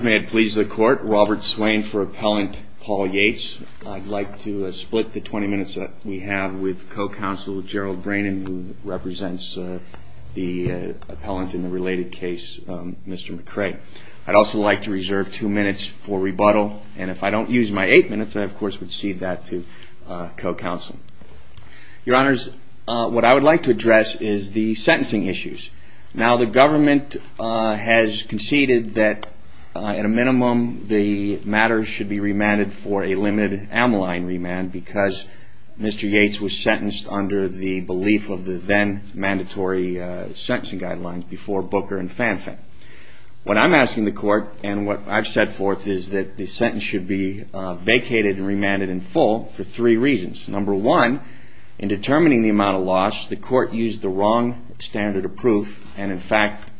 May it please the court, Robert Swain for appellant Paul Yates. I'd like to split the 20 minutes that we have with co-counsel Gerald Brannan, who represents the appellant in the related case, Mr. McCray. I'd also like to reserve two minutes for rebuttal, and if I don't use my eight minutes, I of course would cede that to co-counsel. Your honors, what I would like to address is the sentencing issues. Now the government has conceded that at a minimum the matter should be remanded for a limited amyline remand because Mr. Yates was sentenced under the belief of the then mandatory sentencing guidelines before Booker and Fanfan. What I'm asking the court and what I've set forth is that the sentence should be vacated and remanded in full for three reasons. Number one, in determining the amount of loss, the court used the wrong standard of proof and in fact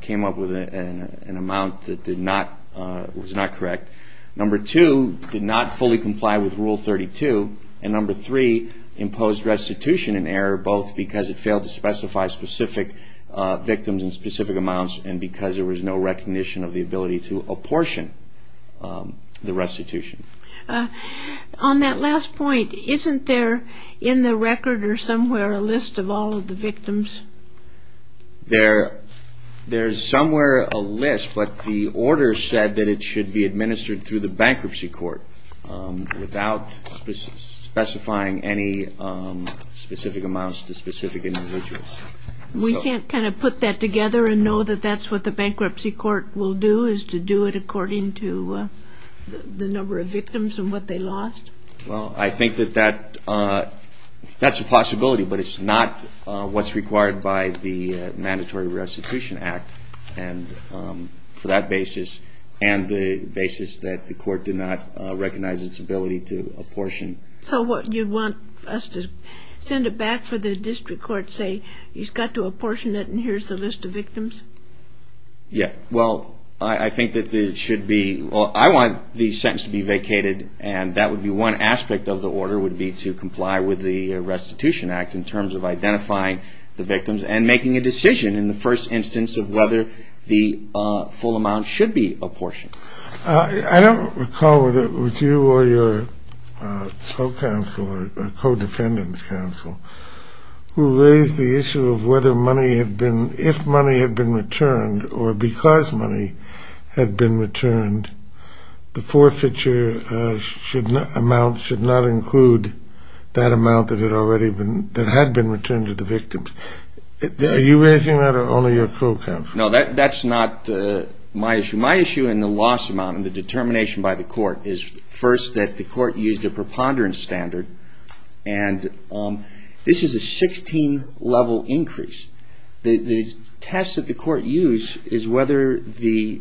came up with an amount that was not correct. Number two, did not fully comply with Rule 32, and number three, imposed restitution in error both because it failed to specify specific victims in specific amounts and because there was no recognition of the ability to apportion the restitution. On that last point, isn't there in the record or somewhere a list of all of the victims? There's somewhere a list, but the order said that it should be administered through the bankruptcy court without specifying any specific amounts to specific individuals. We can't kind of put that together and know that that's what the bankruptcy court will do, is to do it according to the number of victims and what they lost? Well, I think that that's a possibility, but it's not what's required by the Mandatory Restitution Act for that basis and the basis that the court did not recognize its ability to apportion. So you want us to send it back for the district court to say, you've got to apportion it and here's the list of victims? Yeah, well, I think that it should be, well, I want the sentence to be vacated and that would be one aspect of the order would be to comply with the Restitution Act in terms of identifying the victims and making a decision in the first instance of whether the full amount should be apportioned. I don't recall whether it was you or your co-counsel or co-defendant's counsel who raised the issue of whether money had been, if money had been returned or because money had been returned, the forfeiture amount should not include that amount that had already been, that had been returned to the victims. Are you raising that or only your co-counsel? No, that's not my issue. My issue and the loss amount and the determination by the court is first that the court used a preponderance standard and this is a 16-level increase. The test that the court used is whether the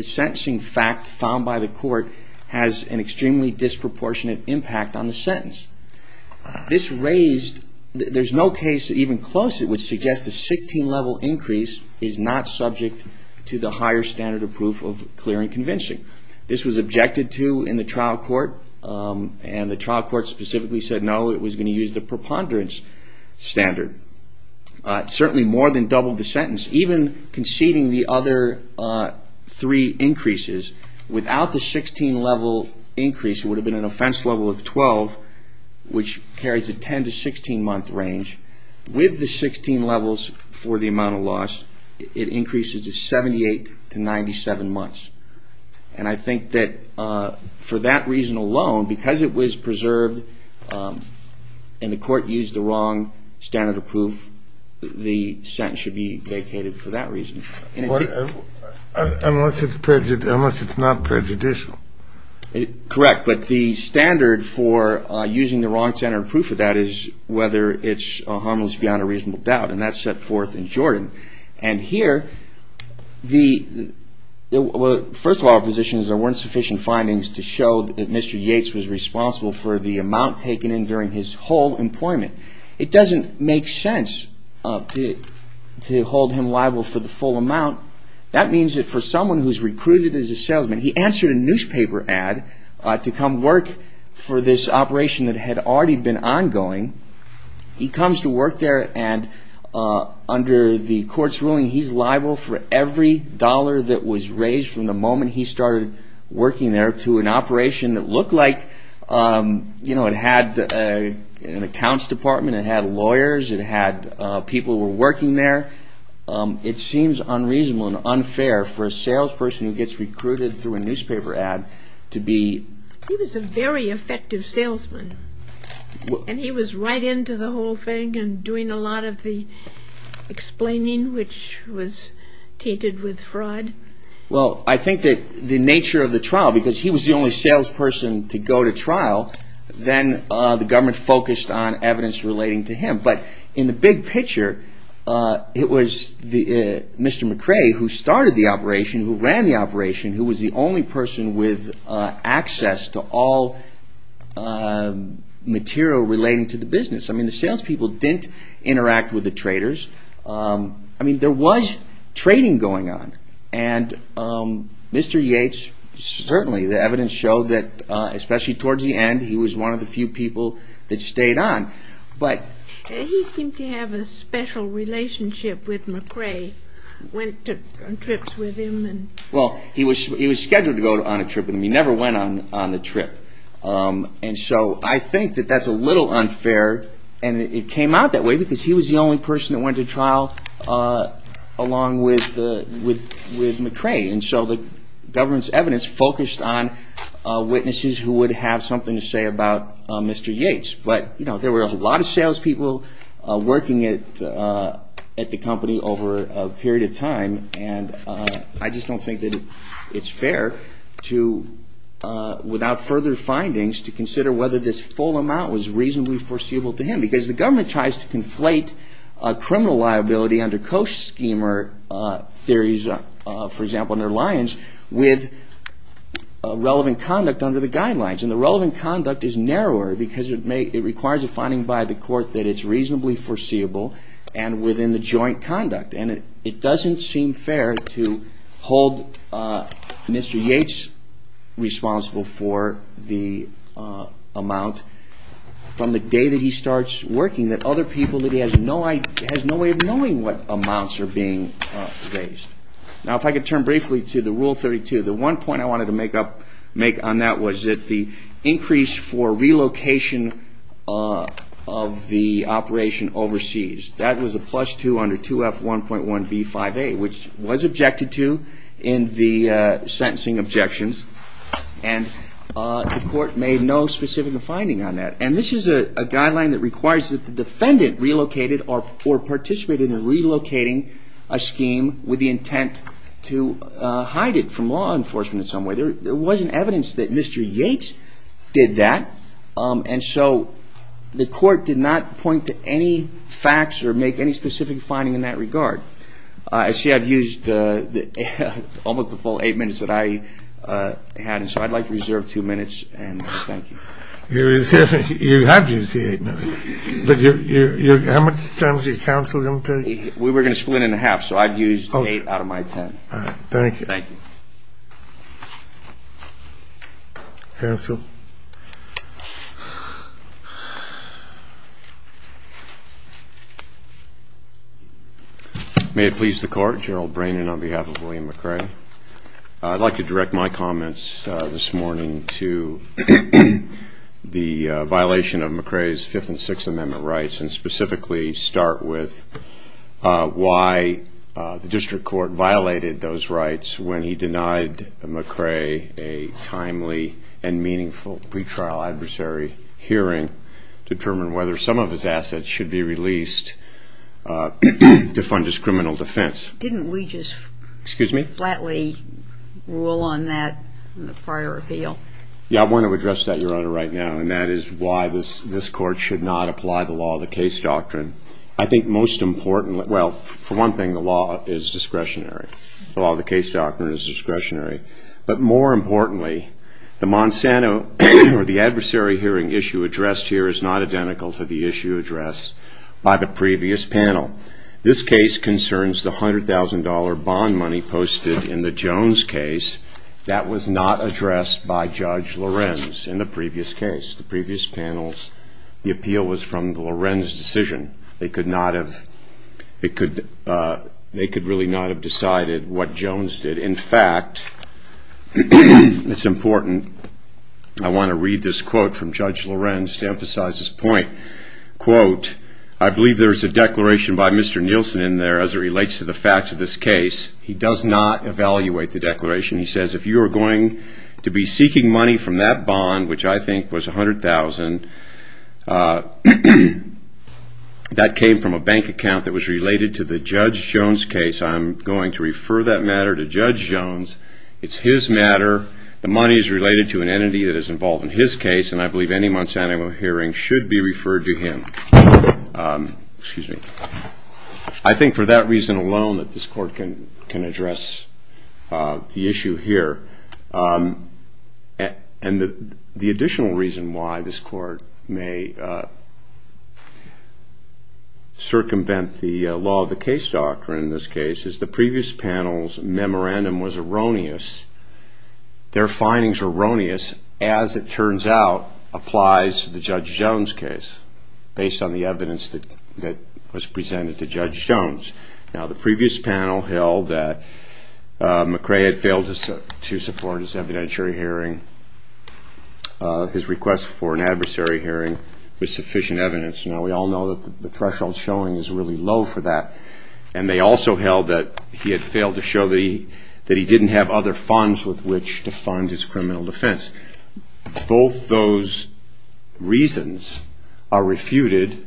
sentencing fact found by the court has an extremely disproportionate impact on the sentence. This raised, there's no case even close that would suggest a 16-level increase is not subject to the higher standard of proof of clear and convincing. This was objected to in the trial court and the trial court specifically said no, it was going to use the preponderance standard. It certainly more than doubled the sentence, even conceding the other three increases. Without the 16-level increase, it would have been an offense level of 12, which carries a 10 to 16-month range. With the 16 levels for the amount of loss, it increases to 78 to 97 months. I think that for that reason alone, because it was preserved and the court used the wrong standard of proof, the sentence should be vacated for that reason. Unless it's not prejudicial. Correct, but the standard for using the wrong standard of proof of that is whether it's harmless beyond a reasonable doubt and that's set forth in Jordan. Here, first of all, the position is there weren't sufficient findings to show that Mr. Yates was responsible for the amount taken in during his whole employment. It doesn't make sense to hold him liable for the full amount. That means that for someone who's recruited as a salesman, he answered a newspaper ad to come work for this operation that had already been ongoing. He comes to work there and under the court's ruling, he's liable for every dollar that was raised from the moment he started working there to an operation that looked like it had an accounts department, it had lawyers, it had people who were working there. It seems unreasonable and unfair for a salesperson who gets recruited through a newspaper ad to be... Right into the whole thing and doing a lot of the explaining, which was tainted with fraud. Well, I think that the nature of the trial, because he was the only salesperson to go to trial, then the government focused on evidence relating to him. But in the big picture, it was Mr. McCrae who started the operation, who ran the operation, who was the only person with access to all material relating to the business. I mean, the salespeople didn't interact with the traders. I mean, there was trading going on. And Mr. Yates, certainly the evidence showed that, especially towards the end, he was one of the few people that stayed on. He seemed to have a special relationship with McCrae. Went on trips with him. Well, he was scheduled to go on a trip with him. He never went on the trip. And so I think that that's a little unfair. And it came out that way because he was the only person that went to trial along with McCrae. And so the government's evidence focused on witnesses who would have something to say about Mr. Yates. But, you know, there were a lot of salespeople working at the company over a period of time. And I just don't think that it's fair to, without further findings, to consider whether this full amount was reasonably foreseeable to him. Because the government tries to conflate criminal liability under co-schemer theories, for example, under Lyons, with relevant conduct under the guidelines. And the relevant conduct is narrower because it requires a finding by the court that it's reasonably foreseeable and within the joint conduct. And it doesn't seem fair to hold Mr. Yates responsible for the amount from the day that he starts working that other people that he has no idea, has no way of knowing what amounts are being raised. Now, if I could turn briefly to the Rule 32. The one point I wanted to make on that was that the increase for relocation of the operation overseas. That was a plus two under 2F1.1B5A, which was objected to in the sentencing objections. And the court made no specific finding on that. And this is a guideline that requires that the defendant relocated or participated in relocating a scheme with the intent to hide it from law enforcement in some way. There wasn't evidence that Mr. Yates did that. And so the court did not point to any facts or make any specific finding in that regard. I see I've used almost the full eight minutes that I had. And so I'd like to reserve two minutes. And thank you. You have used the eight minutes. But how much time is your counsel going to take? We were going to split it in half. So I've used eight out of my ten. All right. Thank you. Counsel? May it please the Court, General Brannon on behalf of William McRae. I'd like to direct my comments this morning to the violation of McRae's Fifth and Sixth Amendment rights and specifically start with why the district court violated those rights when he denied McRae a timely and meaningful pre-trial adversary hearing to determine whether some of his assets should be released to fund his criminal defense. Didn't we just flatly rule on that in the prior appeal? Yeah, I want to address that, Your Honor, right now. And that is why this Court should not apply the law of the case doctrine. I think most importantly, well, for one thing, the law is discretionary. The law of the case doctrine is discretionary. But more importantly, the Monsanto or the adversary hearing issue addressed here is not identical to the issue addressed by the previous panel. This case concerns the $100,000 bond money posted in the Jones case. That was not addressed by Judge Lorenz in the previous case. The previous panel's appeal was from the Lorenz decision. They could really not have decided what Jones did. In fact, it's important, I want to read this quote from Judge Lorenz to emphasize his point. I believe there's a declaration by Mr. Nielsen in there as it relates to the facts of this case. He does not evaluate the declaration. He says, if you are going to be seeking money from that bond, which I think was $100,000, that came from a bank account that was related to the Judge Jones case. I'm going to refer that matter to Judge Jones. It's his matter. The money is related to an entity that is involved in his case. I believe any Monsanto hearing should be referred to him. I think for that reason alone that this court can address the issue here. The additional reason why this court may circumvent the law of the case doctrine in this case is the previous panel's memorandum was erroneous. Their findings were erroneous as it turns out applies to the Judge Jones case based on the evidence that was presented to Judge Jones. Now, the previous panel held that McRae had failed to support his evidentiary hearing. His request for an adversary hearing was sufficient evidence. Now, we all know that the threshold showing is really low for that. They also held that he had failed to show that he didn't have other funds with which to fund his criminal defense. Both those reasons are refuted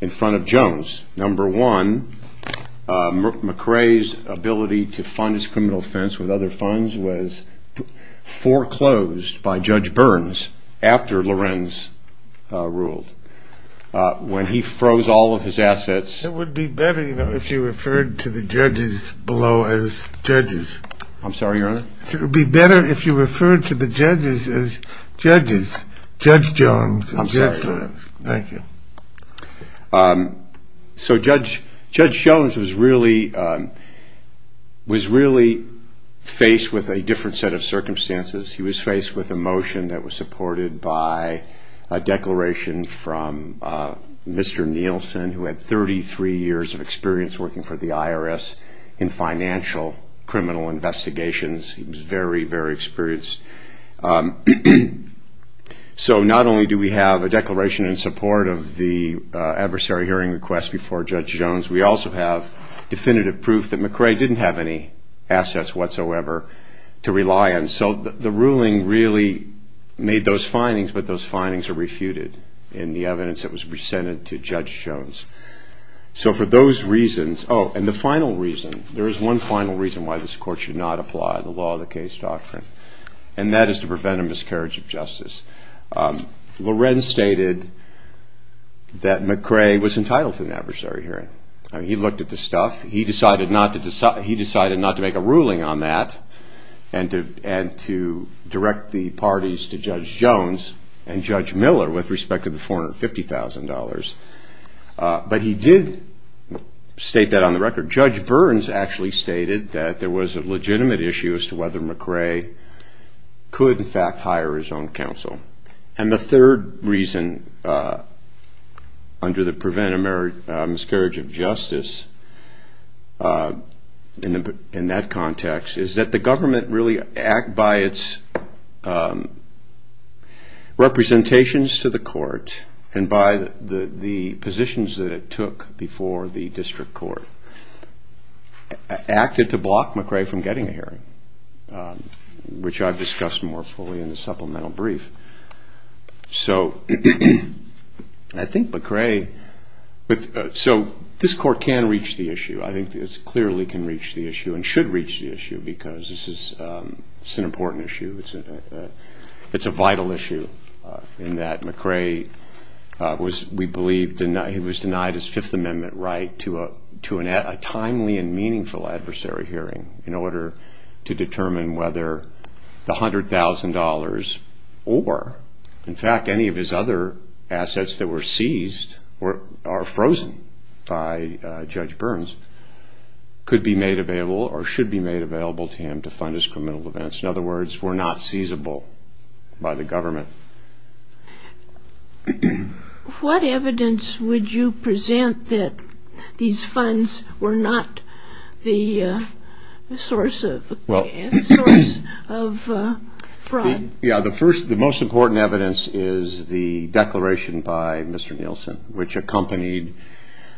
in front of Jones. Number one, McRae's ability to fund his criminal defense with other funds was foreclosed by Judge Burns after Lorenz ruled. When he froze all of his assets... It would be better if you referred to the judges below as judges. I'm sorry, Your Honor? It would be better if you referred to the judges as judges, Judge Jones and Judge Burns. I'm sorry. Thank you. So Judge Jones was really faced with a different set of circumstances. He was faced with a motion that was supported by a declaration from Mr. Nielsen, who had 33 years of experience working for the IRS in financial criminal investigations. He was very, very experienced. So not only do we have a declaration in support of the adversary hearing request before Judge Jones, we also have definitive proof that McRae didn't have any assets whatsoever to rely on. So the ruling really made those findings, but those findings are refuted in the evidence that was presented to Judge Jones. So for those reasons... Oh, and the final reason, there is one final reason why this court should not apply the law of the case doctrine, and that is to prevent a miscarriage of justice. Lorenz stated that McRae was entitled to an adversary hearing. He looked at the stuff. He decided not to make a ruling on that and to direct the parties to Judge Jones and Judge Miller with respect to the $450,000. But he did state that on the record. Judge Burns actually stated that there was a legitimate issue as to whether McRae could, in fact, hire his own counsel. And the third reason under the prevent a miscarriage of justice in that context is that the government really, by its representations to the court and by the positions that it took before the district court, acted to block McRae from getting a hearing, which I've discussed more fully in the supplemental brief. So I think McRae... So this court can reach the issue. I think it clearly can reach the issue and should reach the issue because this is an important issue. It's a vital issue in that McRae was, we believe, he was denied his Fifth Amendment right to a timely and meaningful adversary hearing in order to determine whether the $100,000 or, in fact, any of his other assets that were seized or are frozen by Judge Burns could be made available or should be made available to him to fund his criminal events. In other words, were not seizable by the government. What evidence would you present that these funds were not the source of fraud? Yeah, the first, the most important evidence is the declaration by Mr. Nielsen, which accompanied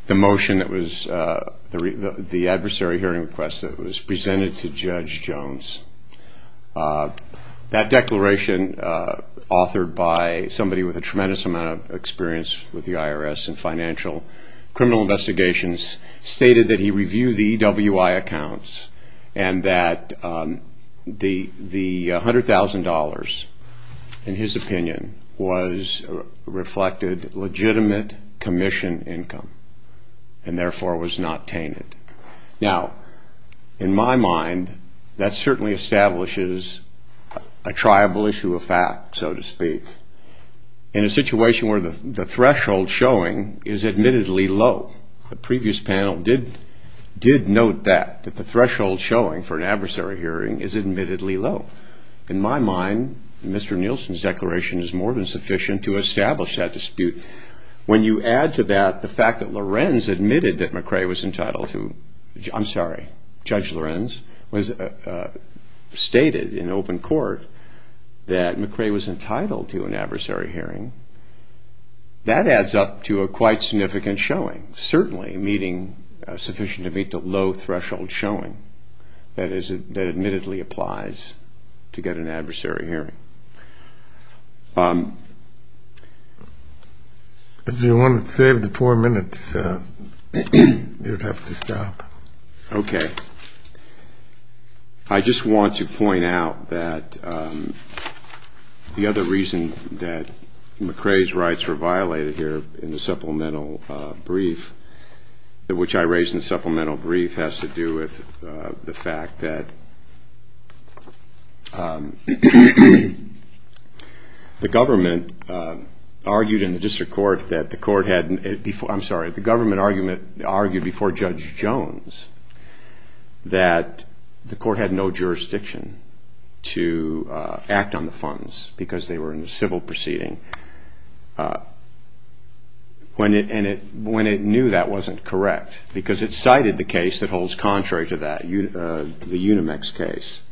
the motion that was, the adversary hearing request that was presented to Judge Jones. That declaration, authored by somebody with a tremendous amount of experience with the IRS and financial criminal investigations, stated that he reviewed the EWI accounts and that the $100,000, in his opinion, was reflected legitimate commission income and therefore was not tainted. Now, in my mind, that certainly establishes a triable issue of fact, so to speak. In a situation where the threshold showing is admittedly low, the previous panel did note that, that the threshold showing for an adversary hearing is admittedly low. In my mind, Mr. Nielsen's declaration is more than sufficient to establish that dispute. When you add to that the fact that Lorenz admitted that McCrae was entitled to, I'm sorry, Judge Lorenz, stated in open court that McCrae was entitled to an adversary hearing, that adds up to a quite significant showing, certainly sufficient to meet the low threshold showing that admittedly applies to get an adversary hearing. If you want to save the four minutes, you'd have to stop. Okay. I just want to point out that the other reason that McCrae's rights were violated here in the supplemental brief, which I raised in the supplemental brief, has to do with the fact that the government argued in the district court that the court had, I'm sorry, the government argued before Judge Jones that the court had no jurisdiction to act on the funds because they were in a civil proceeding. And it knew that wasn't correct because it cited the case that holds contrary to that, the Unimex case.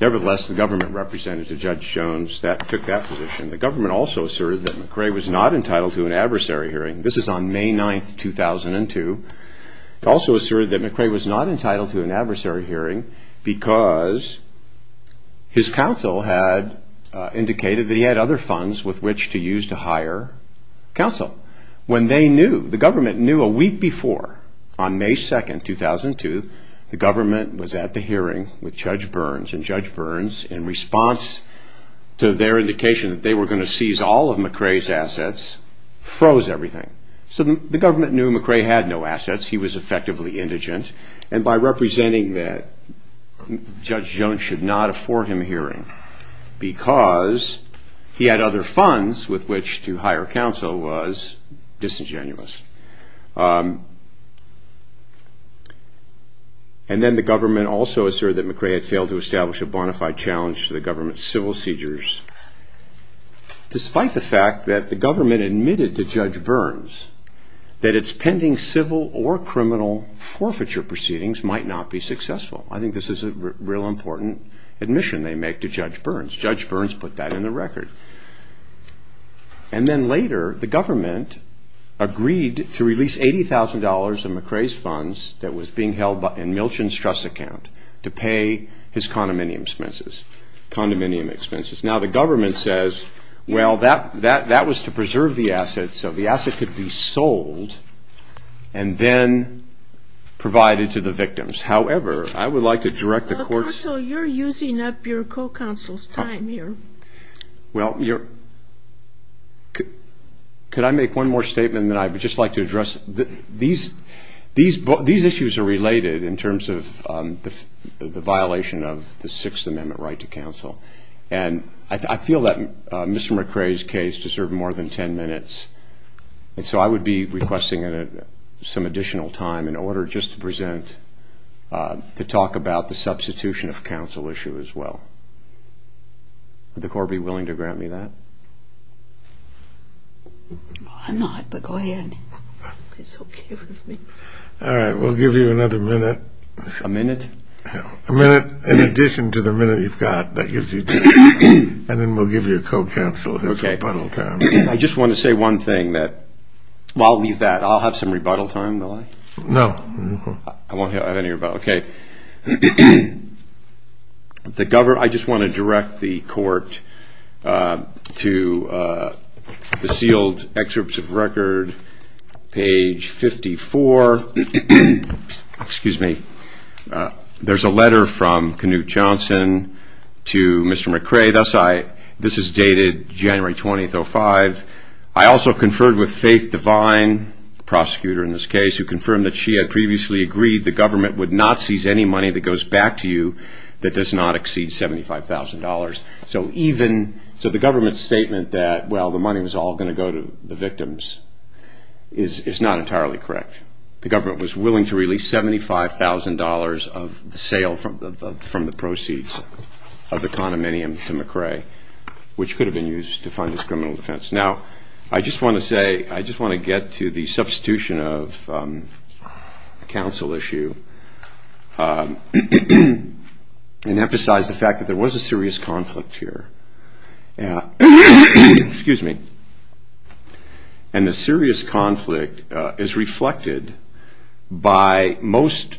Nevertheless, the government represented to Judge Jones that took that position. The government also asserted that McCrae was not entitled to an adversary hearing. This is on May 9, 2002. It also asserted that McCrae was not entitled to an adversary hearing because his counsel had indicated that he had other funds with which to use to hire counsel. When they knew, the government knew a week before on May 2, 2002, the government was at the hearing with Judge Burns. And Judge Burns, in response to their indication that they were going to seize all of McCrae's assets, froze everything. So the government knew McCrae had no assets, he was effectively indigent, and by representing that Judge Jones should not afford him a hearing because he had other funds with which to hire counsel was disingenuous. And then the government also asserted that McCrae had failed to establish a bona fide challenge to the government's civil seizures, despite the fact that the government admitted to Judge Burns that its pending civil or criminal forfeiture proceedings might not be successful. I think this is a real important admission they make to Judge Burns. Judge Burns put that in the record. And then later, the government agreed to release $80,000 of McCrae's funds that was being held in Milton's trust account to pay his condominium expenses. Now, the government says, well, that was to preserve the assets, so the asset could be sold and then provided to the victims. However, I would like to direct the court's... Counsel, you're using up your co-counsel's time here. Well, could I make one more statement that I would just like to address? These issues are related in terms of the violation of the Sixth Amendment right to counsel, and I feel that Mr. McCrae's case deserved more than 10 minutes, and so I would be requesting some additional time in order just to present, to talk about the substitution of counsel issue as well. Would the court be willing to grant me that? I'm not, but go ahead. It's okay with me. All right, we'll give you another minute. A minute in addition to the minute you've got that gives you time, and then we'll give you co-counsel his rebuttal time. I just want to say one thing that... Well, I'll leave that. I'll have some rebuttal time, will I? No. I won't have any rebuttal time. Okay. I just want to direct the court to the sealed excerpts of record, page 54. There's a letter from Knute Johnson to Mr. McCrae. This is dated January 20th, 2005. I also conferred with Faith Devine, the prosecutor in this case, who confirmed that she had previously agreed the government would not seize any money that goes back to you that does not exceed $75,000. So the government's statement that, well, the money was all going to go to the victims is not entirely correct. The government was willing to release $75,000 of the sale from the proceeds of the condominium to McCrae, which could have been used to fund his criminal defense. Now, I just want to say, I just want to get to the substitution of a counsel issue and emphasize the fact that there was a serious conflict here. And the serious conflict is reflected by, most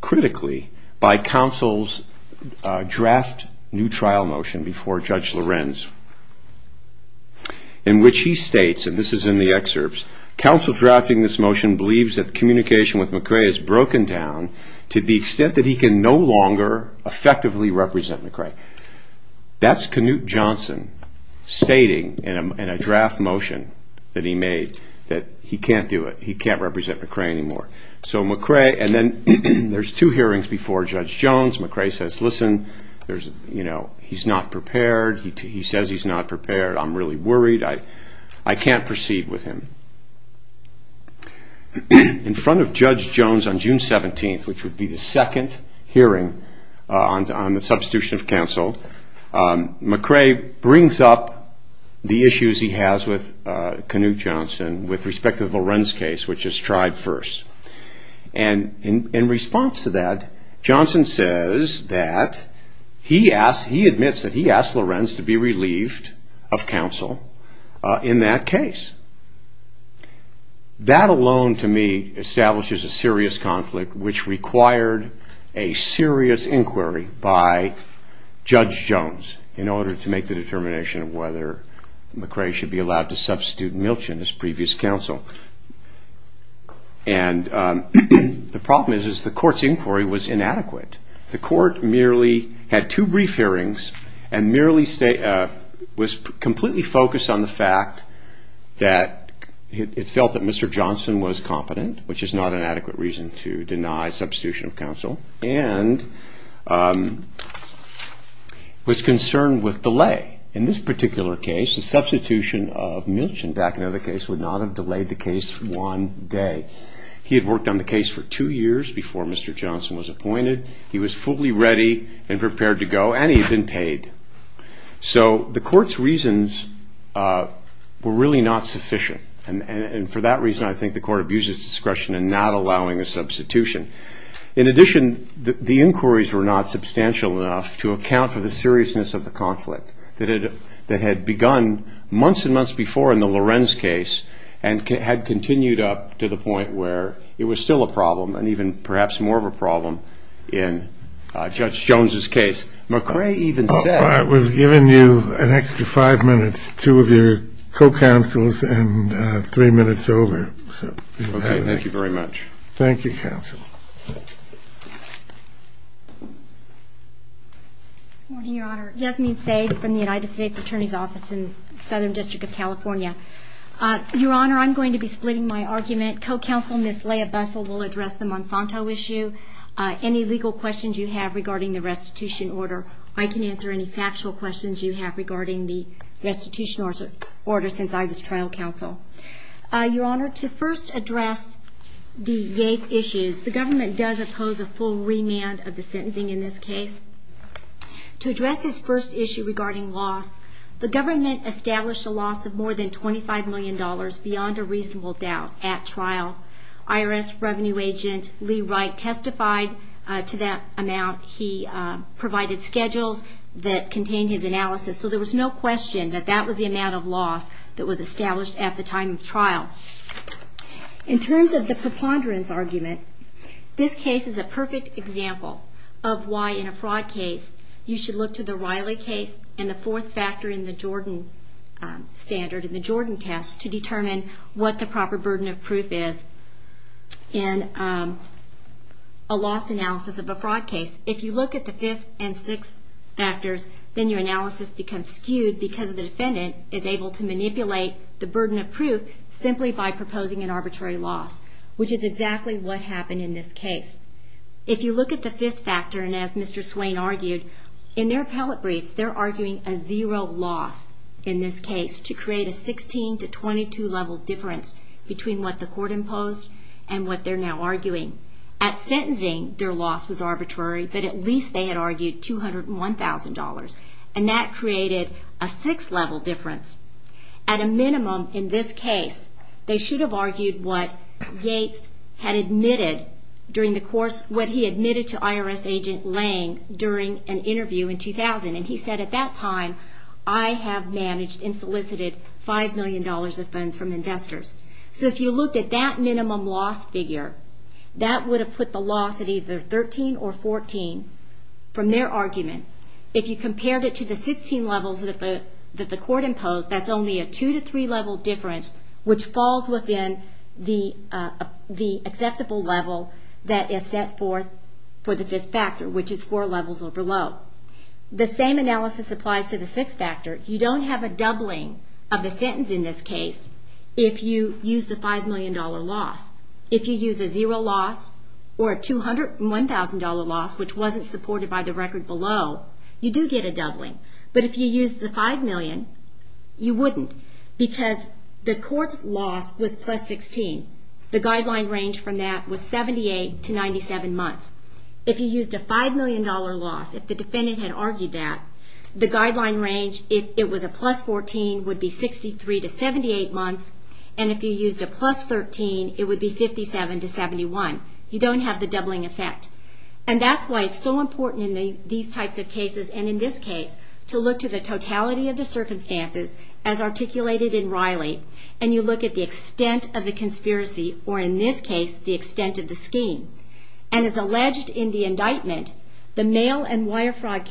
critically, by counsel's draft new trial motion before Judge Lorenz, in which he states, and this is in the excerpts, counsel drafting this motion believes that communication with McCrae is broken down to the extent that he can no longer effectively represent McCrae. That's Knute Johnson stating in a draft motion that he can't do it. He can't represent McCrae anymore. There's two hearings before Judge Jones. McCrae says, listen, he's not prepared. He says he's not prepared. I'm really worried. I can't proceed with him. In front of Judge Jones on June 17th, which would be the second hearing on the substitution of counsel, McCrae brings up the issues he has with Knute Johnson with respect to the Lorenz case, which is tried first. And in response to that, Johnson says that he admits that he asked Lorenz to be relieved of counsel in that case. That alone, to me, establishes a serious conflict which required a serious inquiry by Judge Jones in order to make the determination of whether McCrae should be allowed to substitute Milch in his previous counsel. And the problem is the court's inquiry was inadequate. The court merely had two brief hearings and merely was completely focused on the fact that it felt that Mr. Johnson was competent, which is not an adequate reason to deny substitution of counsel, and was concerned with delay. In this particular case, the substitution of Milch would not have delayed the case one day. He had worked on the case for two years before Mr. Johnson was appointed. He was fully ready and prepared to go, and he had been paid. So the court's reasons were really not sufficient. And for that reason, I think the court abuses discretion in not allowing a substitution. In addition, the inquiries were not substantial enough to account for the seriousness of the conflict that had begun months and months before in the Lorenz case and had continued up to the point where it was still a problem and even perhaps more of a problem in Judge Jones's case. We've given you an extra five minutes, two of your co-counsels, and three minutes over. Okay. Thank you very much. Thank you, counsel. Good morning, Your Honor. Yasmin Saeed from the United States Attorney's Office in Southern District of California. Your Honor, I'm going to be splitting my argument. My co-counsel, Ms. Leah Bessel, will address the Monsanto issue. Any legal questions you have regarding the restitution order, I can answer any factual questions you have regarding the restitution order since I was trial counsel. Your Honor, to first address the Yates issues, the government does oppose a full remand of the sentencing in this case. To address his first issue regarding loss, the government established a loss of more than $25 million beyond a reasonable doubt at trial. IRS Revenue Agent Lee Wright testified to that amount. He provided schedules that contained his analysis, so there was no question that that was the amount of loss that was established at the time of trial. In terms of the preponderance argument, this case is a perfect example of why, in a fraud case, you should look to the Riley case and the fourth factor in the Jordan standard, in the Jordan test, to determine what the proper burden of proof is. In a loss analysis of a fraud case, if you look at the fifth and sixth factors, then your analysis becomes skewed because the defendant is able to manipulate the burden of proof simply by proposing an arbitrary loss, which is exactly what happened in this case. If you look at the fifth factor, and as Mr. Swain argued, in their appellate briefs, they're arguing a zero loss in this case to create a 16 to 22 level difference between what the court imposed and what they're now arguing. At sentencing, their loss was arbitrary, but at least they had argued $201,000, and that created a six level difference. At a minimum, in this case, they should have argued what Gates had admitted to IRS agent Lange during an interview in 2000, and he said, at that time, I have managed and solicited $5 million of funds from investors. So if you looked at that minimum loss figure, that would have put the loss at either 13 or 14 from their argument. If you compared it to the 16 levels that the court imposed, that's only a two to three level difference, which falls within the acceptable level that is set forth for the fifth factor, which is four levels or below. The same analysis applies to the sixth factor. You don't have a doubling of the sentence in this case if you use the $5 million loss. If you use a zero loss or a $201,000 loss, which wasn't supported by the record below, you do get a doubling. But if you use the $5 million, you wouldn't, because the court's loss was plus 16. The guideline range from that was 78 to 97 months. If you used a $5 million loss, if the defendant had argued that, the guideline range, if it was a plus 14, would be 63 to 78 months, and if you used a plus 13, it would be 57 to 71. You don't have the doubling effect. And that's why it's so important in these types of cases, and in this case, to look to the totality of the circumstances as articulated in Riley, and you look at the extent of the conspiracy, or in this case, the extent of the scheme. And as alleged in the indictment, the mail and wire fraud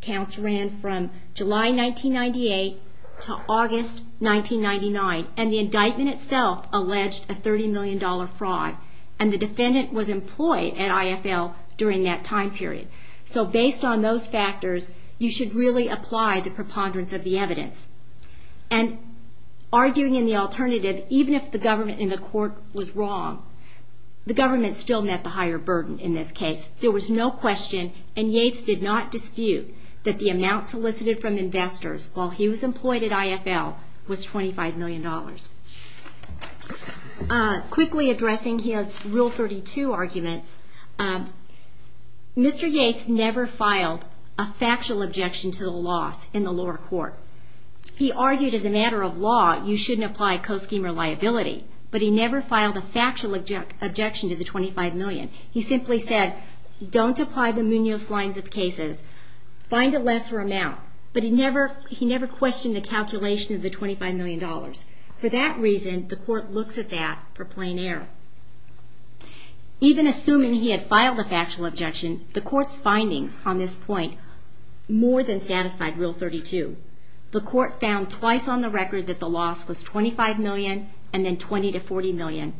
counts ran from July 1998 to August 1999, and the indictment itself alleged a $30 million fraud, and the defendant was employed at IFL during that time period. So based on those factors, you should really apply the preponderance of the evidence. And arguing in the alternative, even if the government in the court was wrong, the government still met the higher burden in this case. There was no question, and Yates did not dispute, that the amount solicited from investors while he was employed at IFL was $25 million. Quickly addressing his Rule 32 arguments, Mr. Yates never filed a factual objection to the loss in the lower court. He argued as a matter of law, you shouldn't apply a co-scheme or liability, but he never filed a factual objection to the $25 million. He simply said, don't apply the Munoz lines of cases, find a lesser amount. But he never questioned the calculation of the $25 million. For that reason, the court looks at that for plain error. Even assuming he had filed a factual objection, the court's findings on this point more than satisfied Rule 32. The court found twice on the record that the loss was $25 million, and then $20 to $40 million.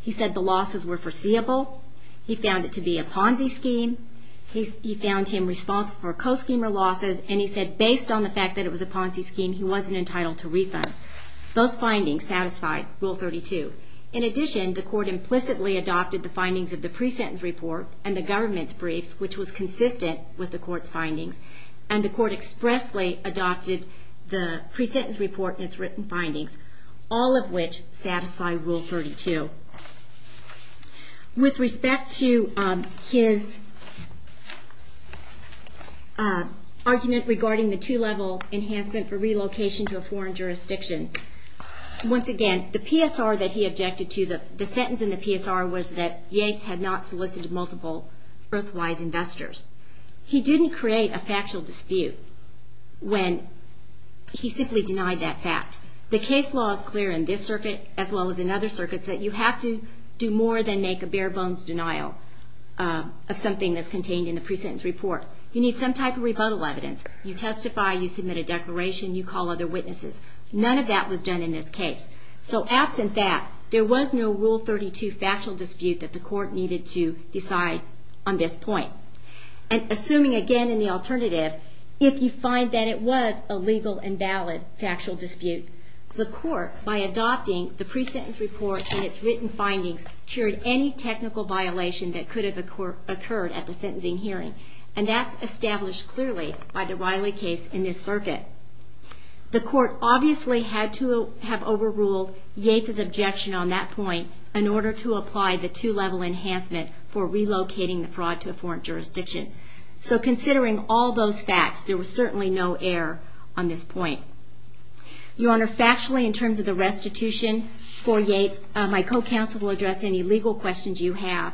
He said the losses were foreseeable. He found it to be a Ponzi scheme. He found him responsible for co-scheme or losses, and he said based on the fact that it was a Ponzi scheme, he wasn't entitled to refunds. Those findings satisfied Rule 32. In addition, the court implicitly adopted the findings of the pre-sentence report and the government's briefs, which was consistent with the court's findings, and the court expressly adopted the pre-sentence report and its written findings, all of which satisfy Rule 32. With respect to his argument regarding the two-level enhancement for relocation to a foreign jurisdiction, once again, the PSR that he objected to, the sentence in the PSR was that Yanks had not solicited multiple worthwhile investors. He didn't create a factual dispute when he simply denied that fact. The case law is clear in this circuit, as well as in other circuits, that you have to do more than make a bare-bones denial of something that's contained in the pre-sentence report. You need some type of rebuttal evidence. You testify, you submit a declaration, you call other witnesses. None of that was done in this case. So absent that, there was no Rule 32 factual dispute that the court needed to decide on this point. And assuming, again, in the alternative, if you find that it was a legal and valid factual dispute, the court, by adopting the pre-sentence report and its written findings, cured any technical violation that could have occurred at the sentencing hearing. And that's established clearly by the Riley case in this circuit. The court obviously had to have overruled Yates' objection on that point in order to apply the two-level enhancement for relocating the fraud to a foreign jurisdiction. So considering all those facts, there was certainly no error on this point. Your Honor, factually, in terms of the restitution for Yates, my co-counsel will address any legal questions you have,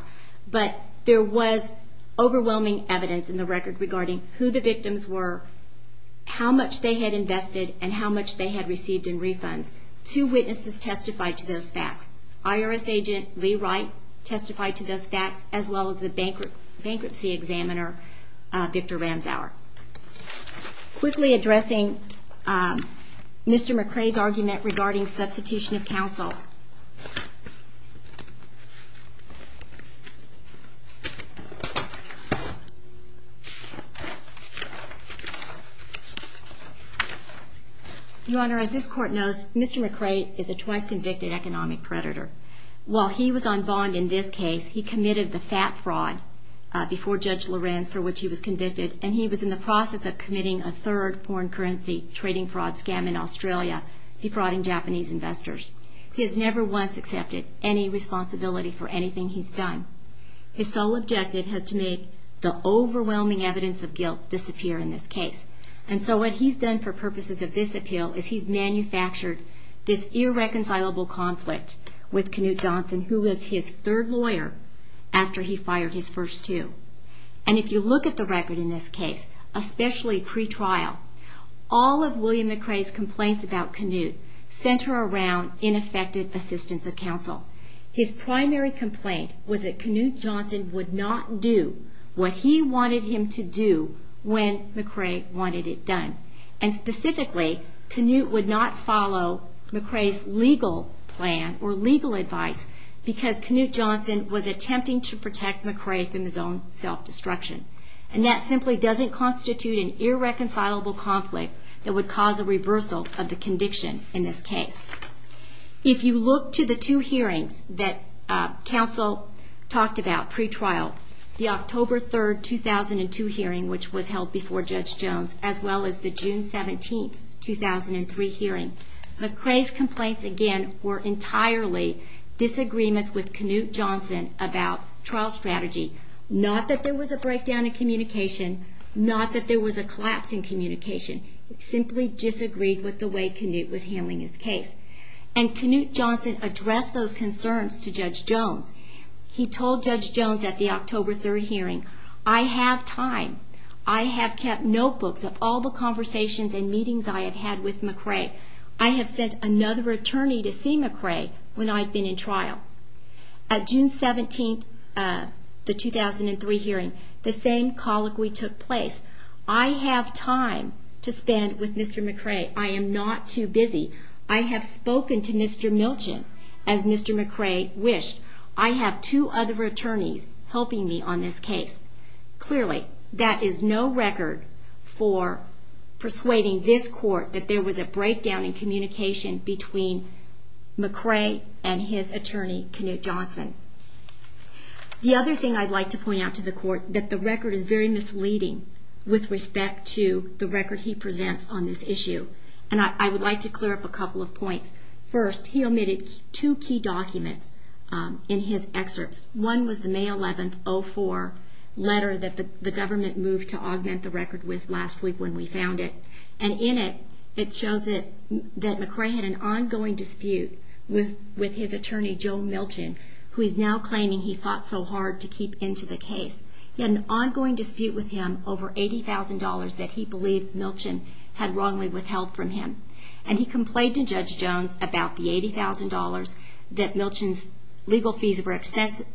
but there was overwhelming evidence in the record regarding who the victims were, how much they had invested, and how much they had received in refunds. Two witnesses testified to those facts. IRS agent Lee Wright testified to those facts, as well as the bankruptcy attorney. Bankruptcy examiner Victor Ramsour. Quickly addressing Mr. McRae's argument regarding substitution of counsel. Your Honor, as this Court knows, Mr. McRae is a twice-convicted economic predator. While he was on bond in this case, he committed the fat fraud. Before Judge Lorenz, for which he was convicted, and he was in the process of committing a third foreign currency trading fraud scam in Australia, defrauding Japanese investors. He has never once accepted any responsibility for anything he's done. His sole objective has to be the overwhelming evidence of guilt disappear in this case. And so what he's done for purposes of this appeal is he's manufactured this case. And if you look at the record in this case, especially pre-trial, all of William McRae's complaints about Knut center around ineffective assistance of counsel. His primary complaint was that Knut Johnson would not do what he wanted him to do when McRae wanted it done. And specifically, Knut would not follow McRae's legal plan or legal advice because Knut Johnson was attempting to protect McRae from his own self-destruction. And that simply doesn't constitute an irreconcilable conflict that would cause a reversal of the conviction in this case. If you look to the two hearings that counsel talked about pre-trial, the October 3, 2002 hearing, which was held before Judge Jones, as well as the June 17, 2003 hearing, McRae's complaints, again, were entirely disagreements with Knut Johnson about trial strategy, no legal advice, not that there was a breakdown in communication, not that there was a collapse in communication. It simply disagreed with the way Knut was handling his case. And Knut Johnson addressed those concerns to Judge Jones. He told Judge Jones at the October 3 hearing, I have time. I have kept notebooks of all the conversations and meetings I have had with McRae. I have sent another attorney to see McRae when I've been in trial. At the October 3, 2003 hearing, the same colloquy took place. I have time to spend with Mr. McRae. I am not too busy. I have spoken to Mr. Milchen, as Mr. McRae wished. I have two other attorneys helping me on this case. Clearly, that is no record for persuading this court that there was a breakdown in communication between McRae and his attorney, Knut Johnson. The other thing I'd like to point out is that the record is very misleading with respect to the record he presents on this issue. And I would like to clear up a couple of points. First, he omitted two key documents in his excerpts. One was the May 11, 2004 letter that the government moved to augment the record with last week when we found it. And in it, it shows that McRae had an ongoing dispute with his attorney, Joe Milchen, who is now claiming he fought so hard to keep into the case. He had an ongoing dispute with him over $80,000 that he believed Milchen had wrongly withheld from him. And he complained to Judge Jones about the $80,000, that Milchen's legal fees were excessive,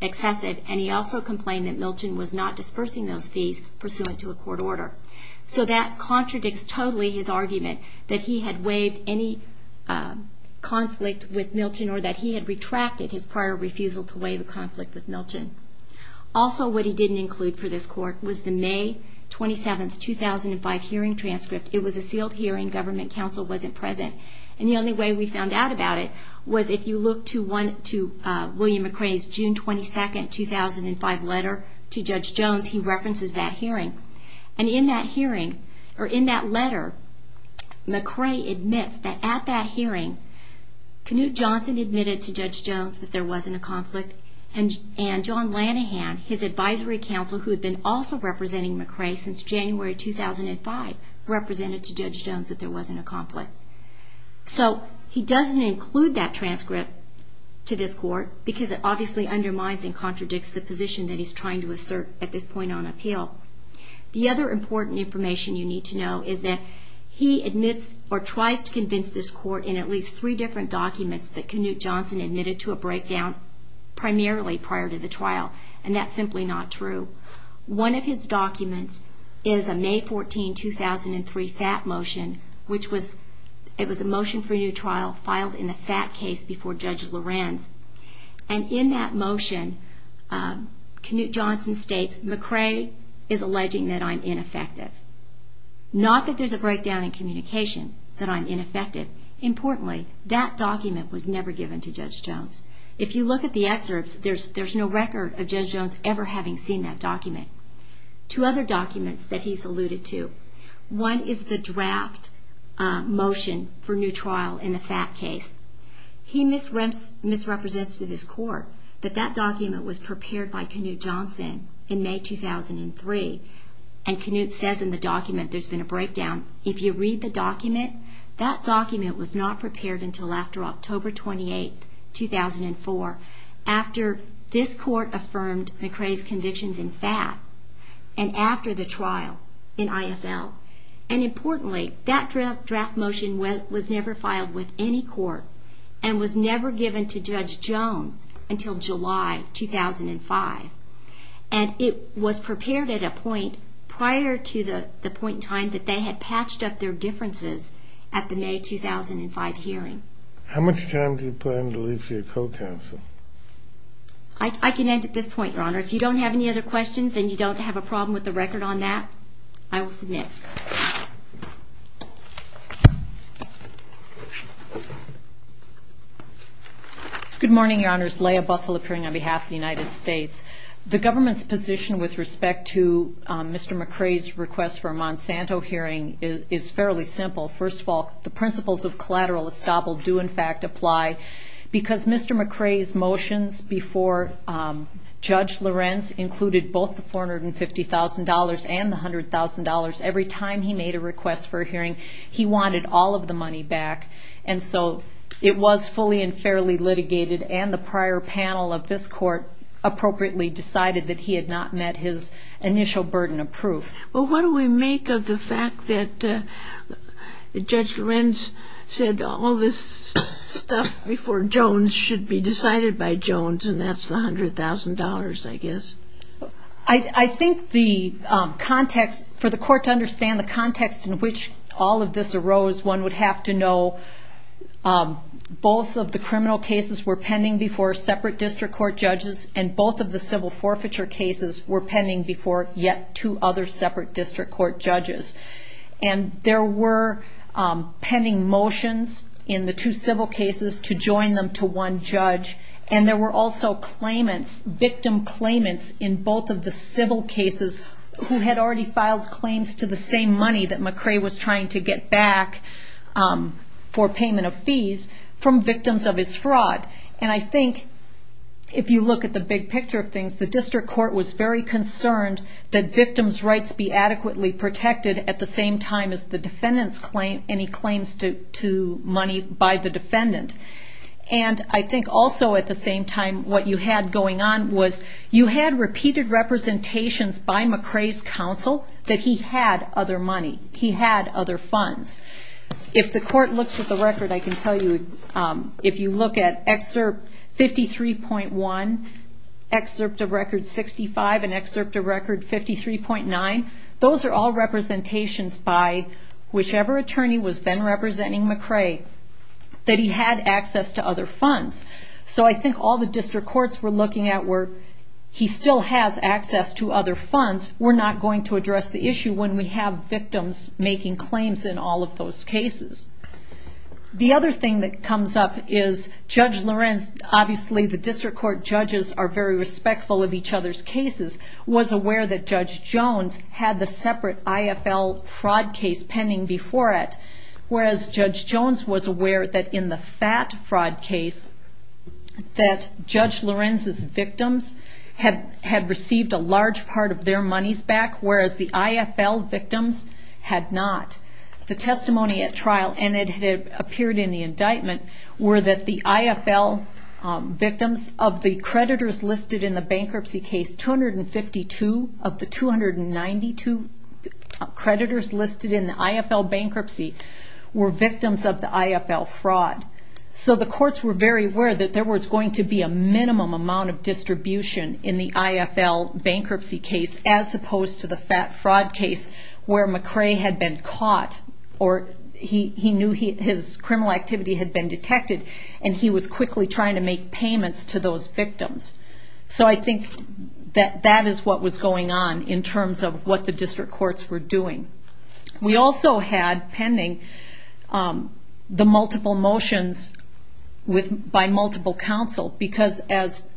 and he also complained that Milchen was not dispersing those fees pursuant to a court order. So that contradicts totally his argument that he had waived any conflict with Milchen. Also, what he didn't include for this court was the May 27, 2005 hearing transcript. It was a sealed hearing. Government counsel wasn't present. And the only way we found out about it was if you look to William McRae's June 22, 2005 letter to Judge Jones, he references that hearing. And in that hearing, or in that letter, McRae admits that at that hearing, Knut Johnson admitted to Judge Jones that there wasn't a conflict. And John Lanahan, his advisory counsel, who had been also representing McRae since January 2005, represented to Judge Jones that there wasn't a conflict. So he doesn't include that transcript to this court, because it obviously undermines and contradicts the position that he's trying to assert at this point on appeal. The other important information you need to know is that he admits, or tries to convince this court in at least three different documents that Knut Johnson admitted to a breakdown, primarily prior to the trial. And that's simply not true. One of his documents is a May 14, 2003 FAT motion, which was a motion for a new trial filed in the FAT case before Judge Lorenz. And in that motion, Knut Johnson states, McRae is alleging that I'm ineffective. Not that there's a breakdown in communication, that I'm ineffective. Importantly, that document was never given to Judge Jones. If you look at the excerpts, there's no record of Judge Jones ever having seen that document. Two other documents that he's alluded to. One is the draft motion for new trial in the FAT case. He misrepresents to this court that that document was prepared by Knut Johnson in May 2003. And Knut says in the document there's been a breakdown. If you read the document, that document was not prepared until after October 28, 2004, after this court affirmed McRae's convictions in FAT, and after the trial in IFL. And importantly, that draft motion was never filed with any court, and was never given to Judge Jones until July 2005. And it was prepared at a point prior to the point in time that they had patched up their different differences at the May 2005 hearing. How much time do you plan to leave for your co-counsel? I can end at this point, Your Honor. If you don't have any other questions, and you don't have a problem with the record on that, I will submit. Good morning, Your Honors. Leah Bussell appearing on behalf of the United States. The government's position with respect to Mr. McRae is very simple. First of all, the principles of collateral estoppel do, in fact, apply. Because Mr. McRae's motions before Judge Lorenz included both the $450,000 and the $100,000. Every time he made a request for a hearing, he wanted all of the money back. And so it was fully and fairly litigated, and the prior panel of this court appropriately decided that he had not met his initial burden of proof. Judge Lorenz said all this stuff before Jones should be decided by Jones, and that's the $100,000, I guess. I think for the court to understand the context in which all of this arose, one would have to know both of the criminal cases were pending before separate district court judges, and both of the civil forfeiture cases were pending before yet two other separate district court judges. And there were pending motions in the two civil cases to join them to one judge, and there were also claimants, victim claimants in both of the civil cases who had already filed claims to the same money that McRae was trying to get back for payment of fees from victims of his fraud. And I think if you look at the big picture of this, the court was concerned that victims' rights be adequately protected at the same time as the defendant's claim, any claims to money by the defendant. And I think also at the same time, what you had going on was you had repeated representations by McRae's counsel that he had other money, he had other funds. If the court looks at the record, I can tell you, if you look at Excerpt 53.1, Excerpt of Record 65, and Excerpt of Record 66, and Excerpt of Record 67, and Excerpt of Record 53.9, those are all representations by whichever attorney was then representing McRae that he had access to other funds. So I think all the district courts were looking at were, he still has access to other funds, we're not going to address the issue when we have victims making claims in all of those cases. The other thing that comes up is Judge Lorenz, obviously the district court judges are very respectful of each other's cases. Will the district court judge was aware that Judge Jones had the separate IFL fraud case pending before it, whereas Judge Jones was aware that in the FAT fraud case that Judge Lorenz's victims had received a large part of their monies back, whereas the IFL victims had not. The testimony at trial, and it had appeared in the indictment, were that the IFL victims of the creditors listed in the bankruptcy case, 252 of the 292 creditors listed in the IFL bankruptcy were victims of the IFL fraud. So the courts were very aware that there was going to be a minimum amount of distribution in the IFL bankruptcy case, as opposed to the FAT fraud case where McRae had been caught, or he knew his criminal activity had been detected, and he was quickly trying to make payments to those victims. So I think that that is what was going on in terms of what the district courts were doing. We also had pending the multiple motions by multiple counsel, because as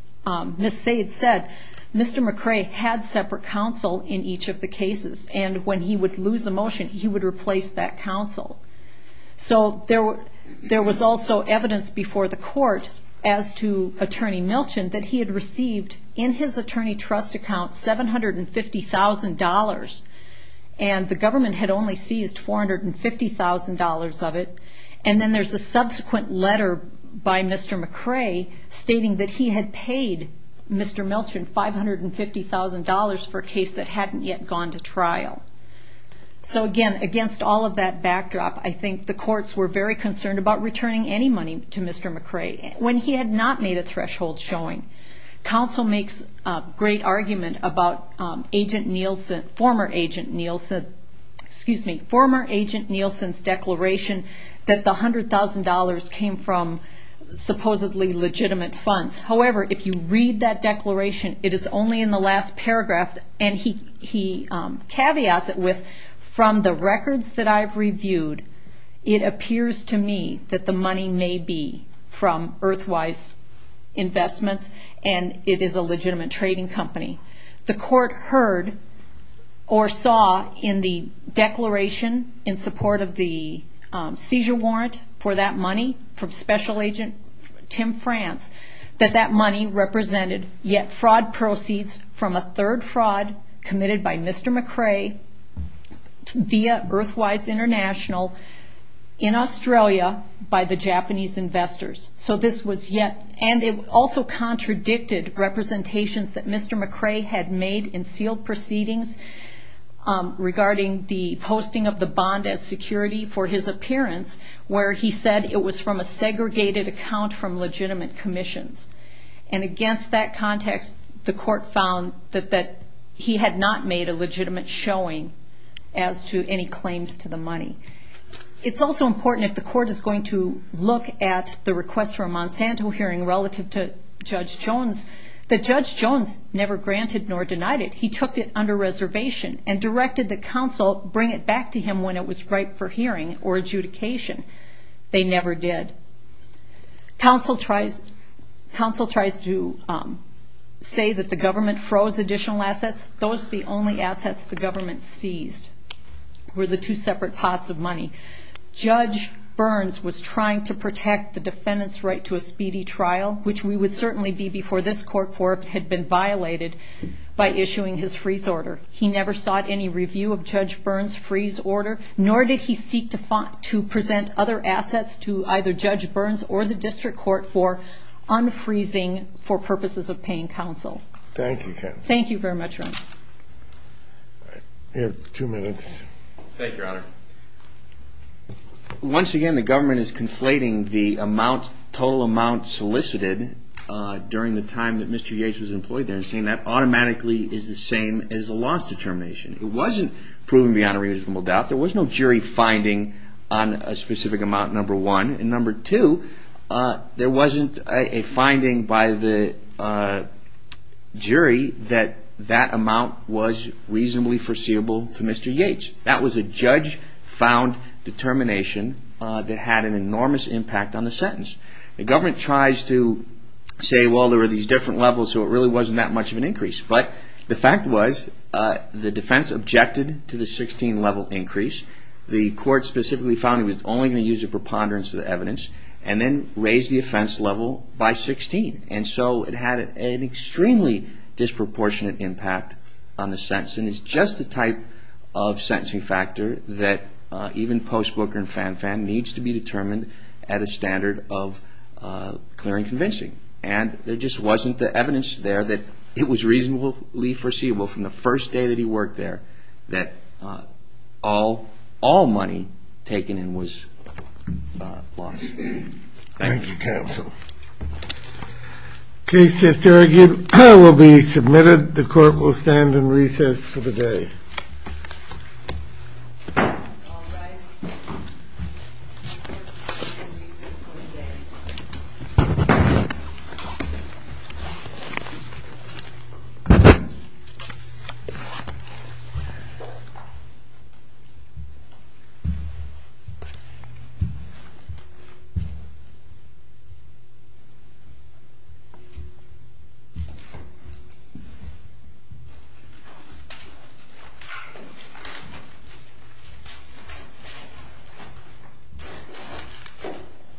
Ms. Sayed said, Mr. McRae had separate counsel in each of the cases, and when he would lose a motion, he would replace that counsel. So there was also evidence before the court as to Attorney Milchen that he had received in his attorney trust account $750,000, and the government had only seized $450,000 of it. And then there's a subsequent letter by Mr. McRae stating that he had paid Mr. Milchen $550,000 for a case that hadn't yet gone to trial. So again, against all of that backdrop, I think the courts were very concerned about returning any money to Mr. McRae. When he had not made a threshold showing, counsel makes a great argument about agent Nielsen, former agent Nielsen's declaration that the $100,000 came from supposedly legitimate funds. However, if you read that declaration, it is only in the last paragraph, and he caveats it with, from the records that I've reviewed, it appears to me that the money may be from Earthwise Investments, and it is a legitimate trading company. The court heard or saw in the declaration in support of the seizure warrant for that money from Special Agent Tim France that that money represented, yet, fraud proceeds from a third fraud committed by Mr. McRae via Earthwise Investments, which is an international, in Australia, by the Japanese investors. So this was yet, and it also contradicted representations that Mr. McRae had made in sealed proceedings regarding the posting of the bond as security for his appearance, where he said it was from a segregated account from legitimate commissions. And against that context, the court found that he had not made a legitimate showing as to any claims to the money. So I think it's important that we look at the request for a Monsanto hearing relative to Judge Jones, that Judge Jones never granted nor denied it. He took it under reservation and directed that counsel bring it back to him when it was ripe for hearing or adjudication. They never did. Counsel tries to say that the government froze additional assets. Those are the only assets the government seized, were the two separate pots of money. Judge Burns was trying to protect the defendant's right to a speedy trial, which we would certainly be before this court for if it had been violated by issuing his freeze order. He never sought any review of Judge Burns' freeze order, nor did he seek to present other assets to either Judge Burns or the district court for unfreezing for purposes of paying counsel. Thank you, counsel. Thank you very much, Reince. Once again, the government is conflating the total amount solicited during the time that Mr. Yates was employed there and saying that automatically is the same as the loss determination. It wasn't proven beyond a reasonable doubt. There was no jury finding on a specific amount, number one. And number two, there wasn't a finding by the district court jury that that amount was reasonably foreseeable to Mr. Yates. That was a judge-found determination that had an enormous impact on the sentence. The government tries to say, well, there were these different levels, so it really wasn't that much of an increase. But the fact was, the defense objected to the 16-level increase. The court specifically found it was only going to use a preponderance of the evidence, and then raised the offense level by 16. And so it had an extremely disproportionate impact on the sentence. And it's just the type of sentencing factor that even Post Booker and Fan Fan needs to be determined at a standard of clear and convincing. And there just wasn't the evidence there that it was reasonably foreseeable from the first day that he worked there that all money taken in was lost. Thank you. Thank you, counsel. Okay. Case to argue will be submitted. The court will stand in recess for the day. Thank you.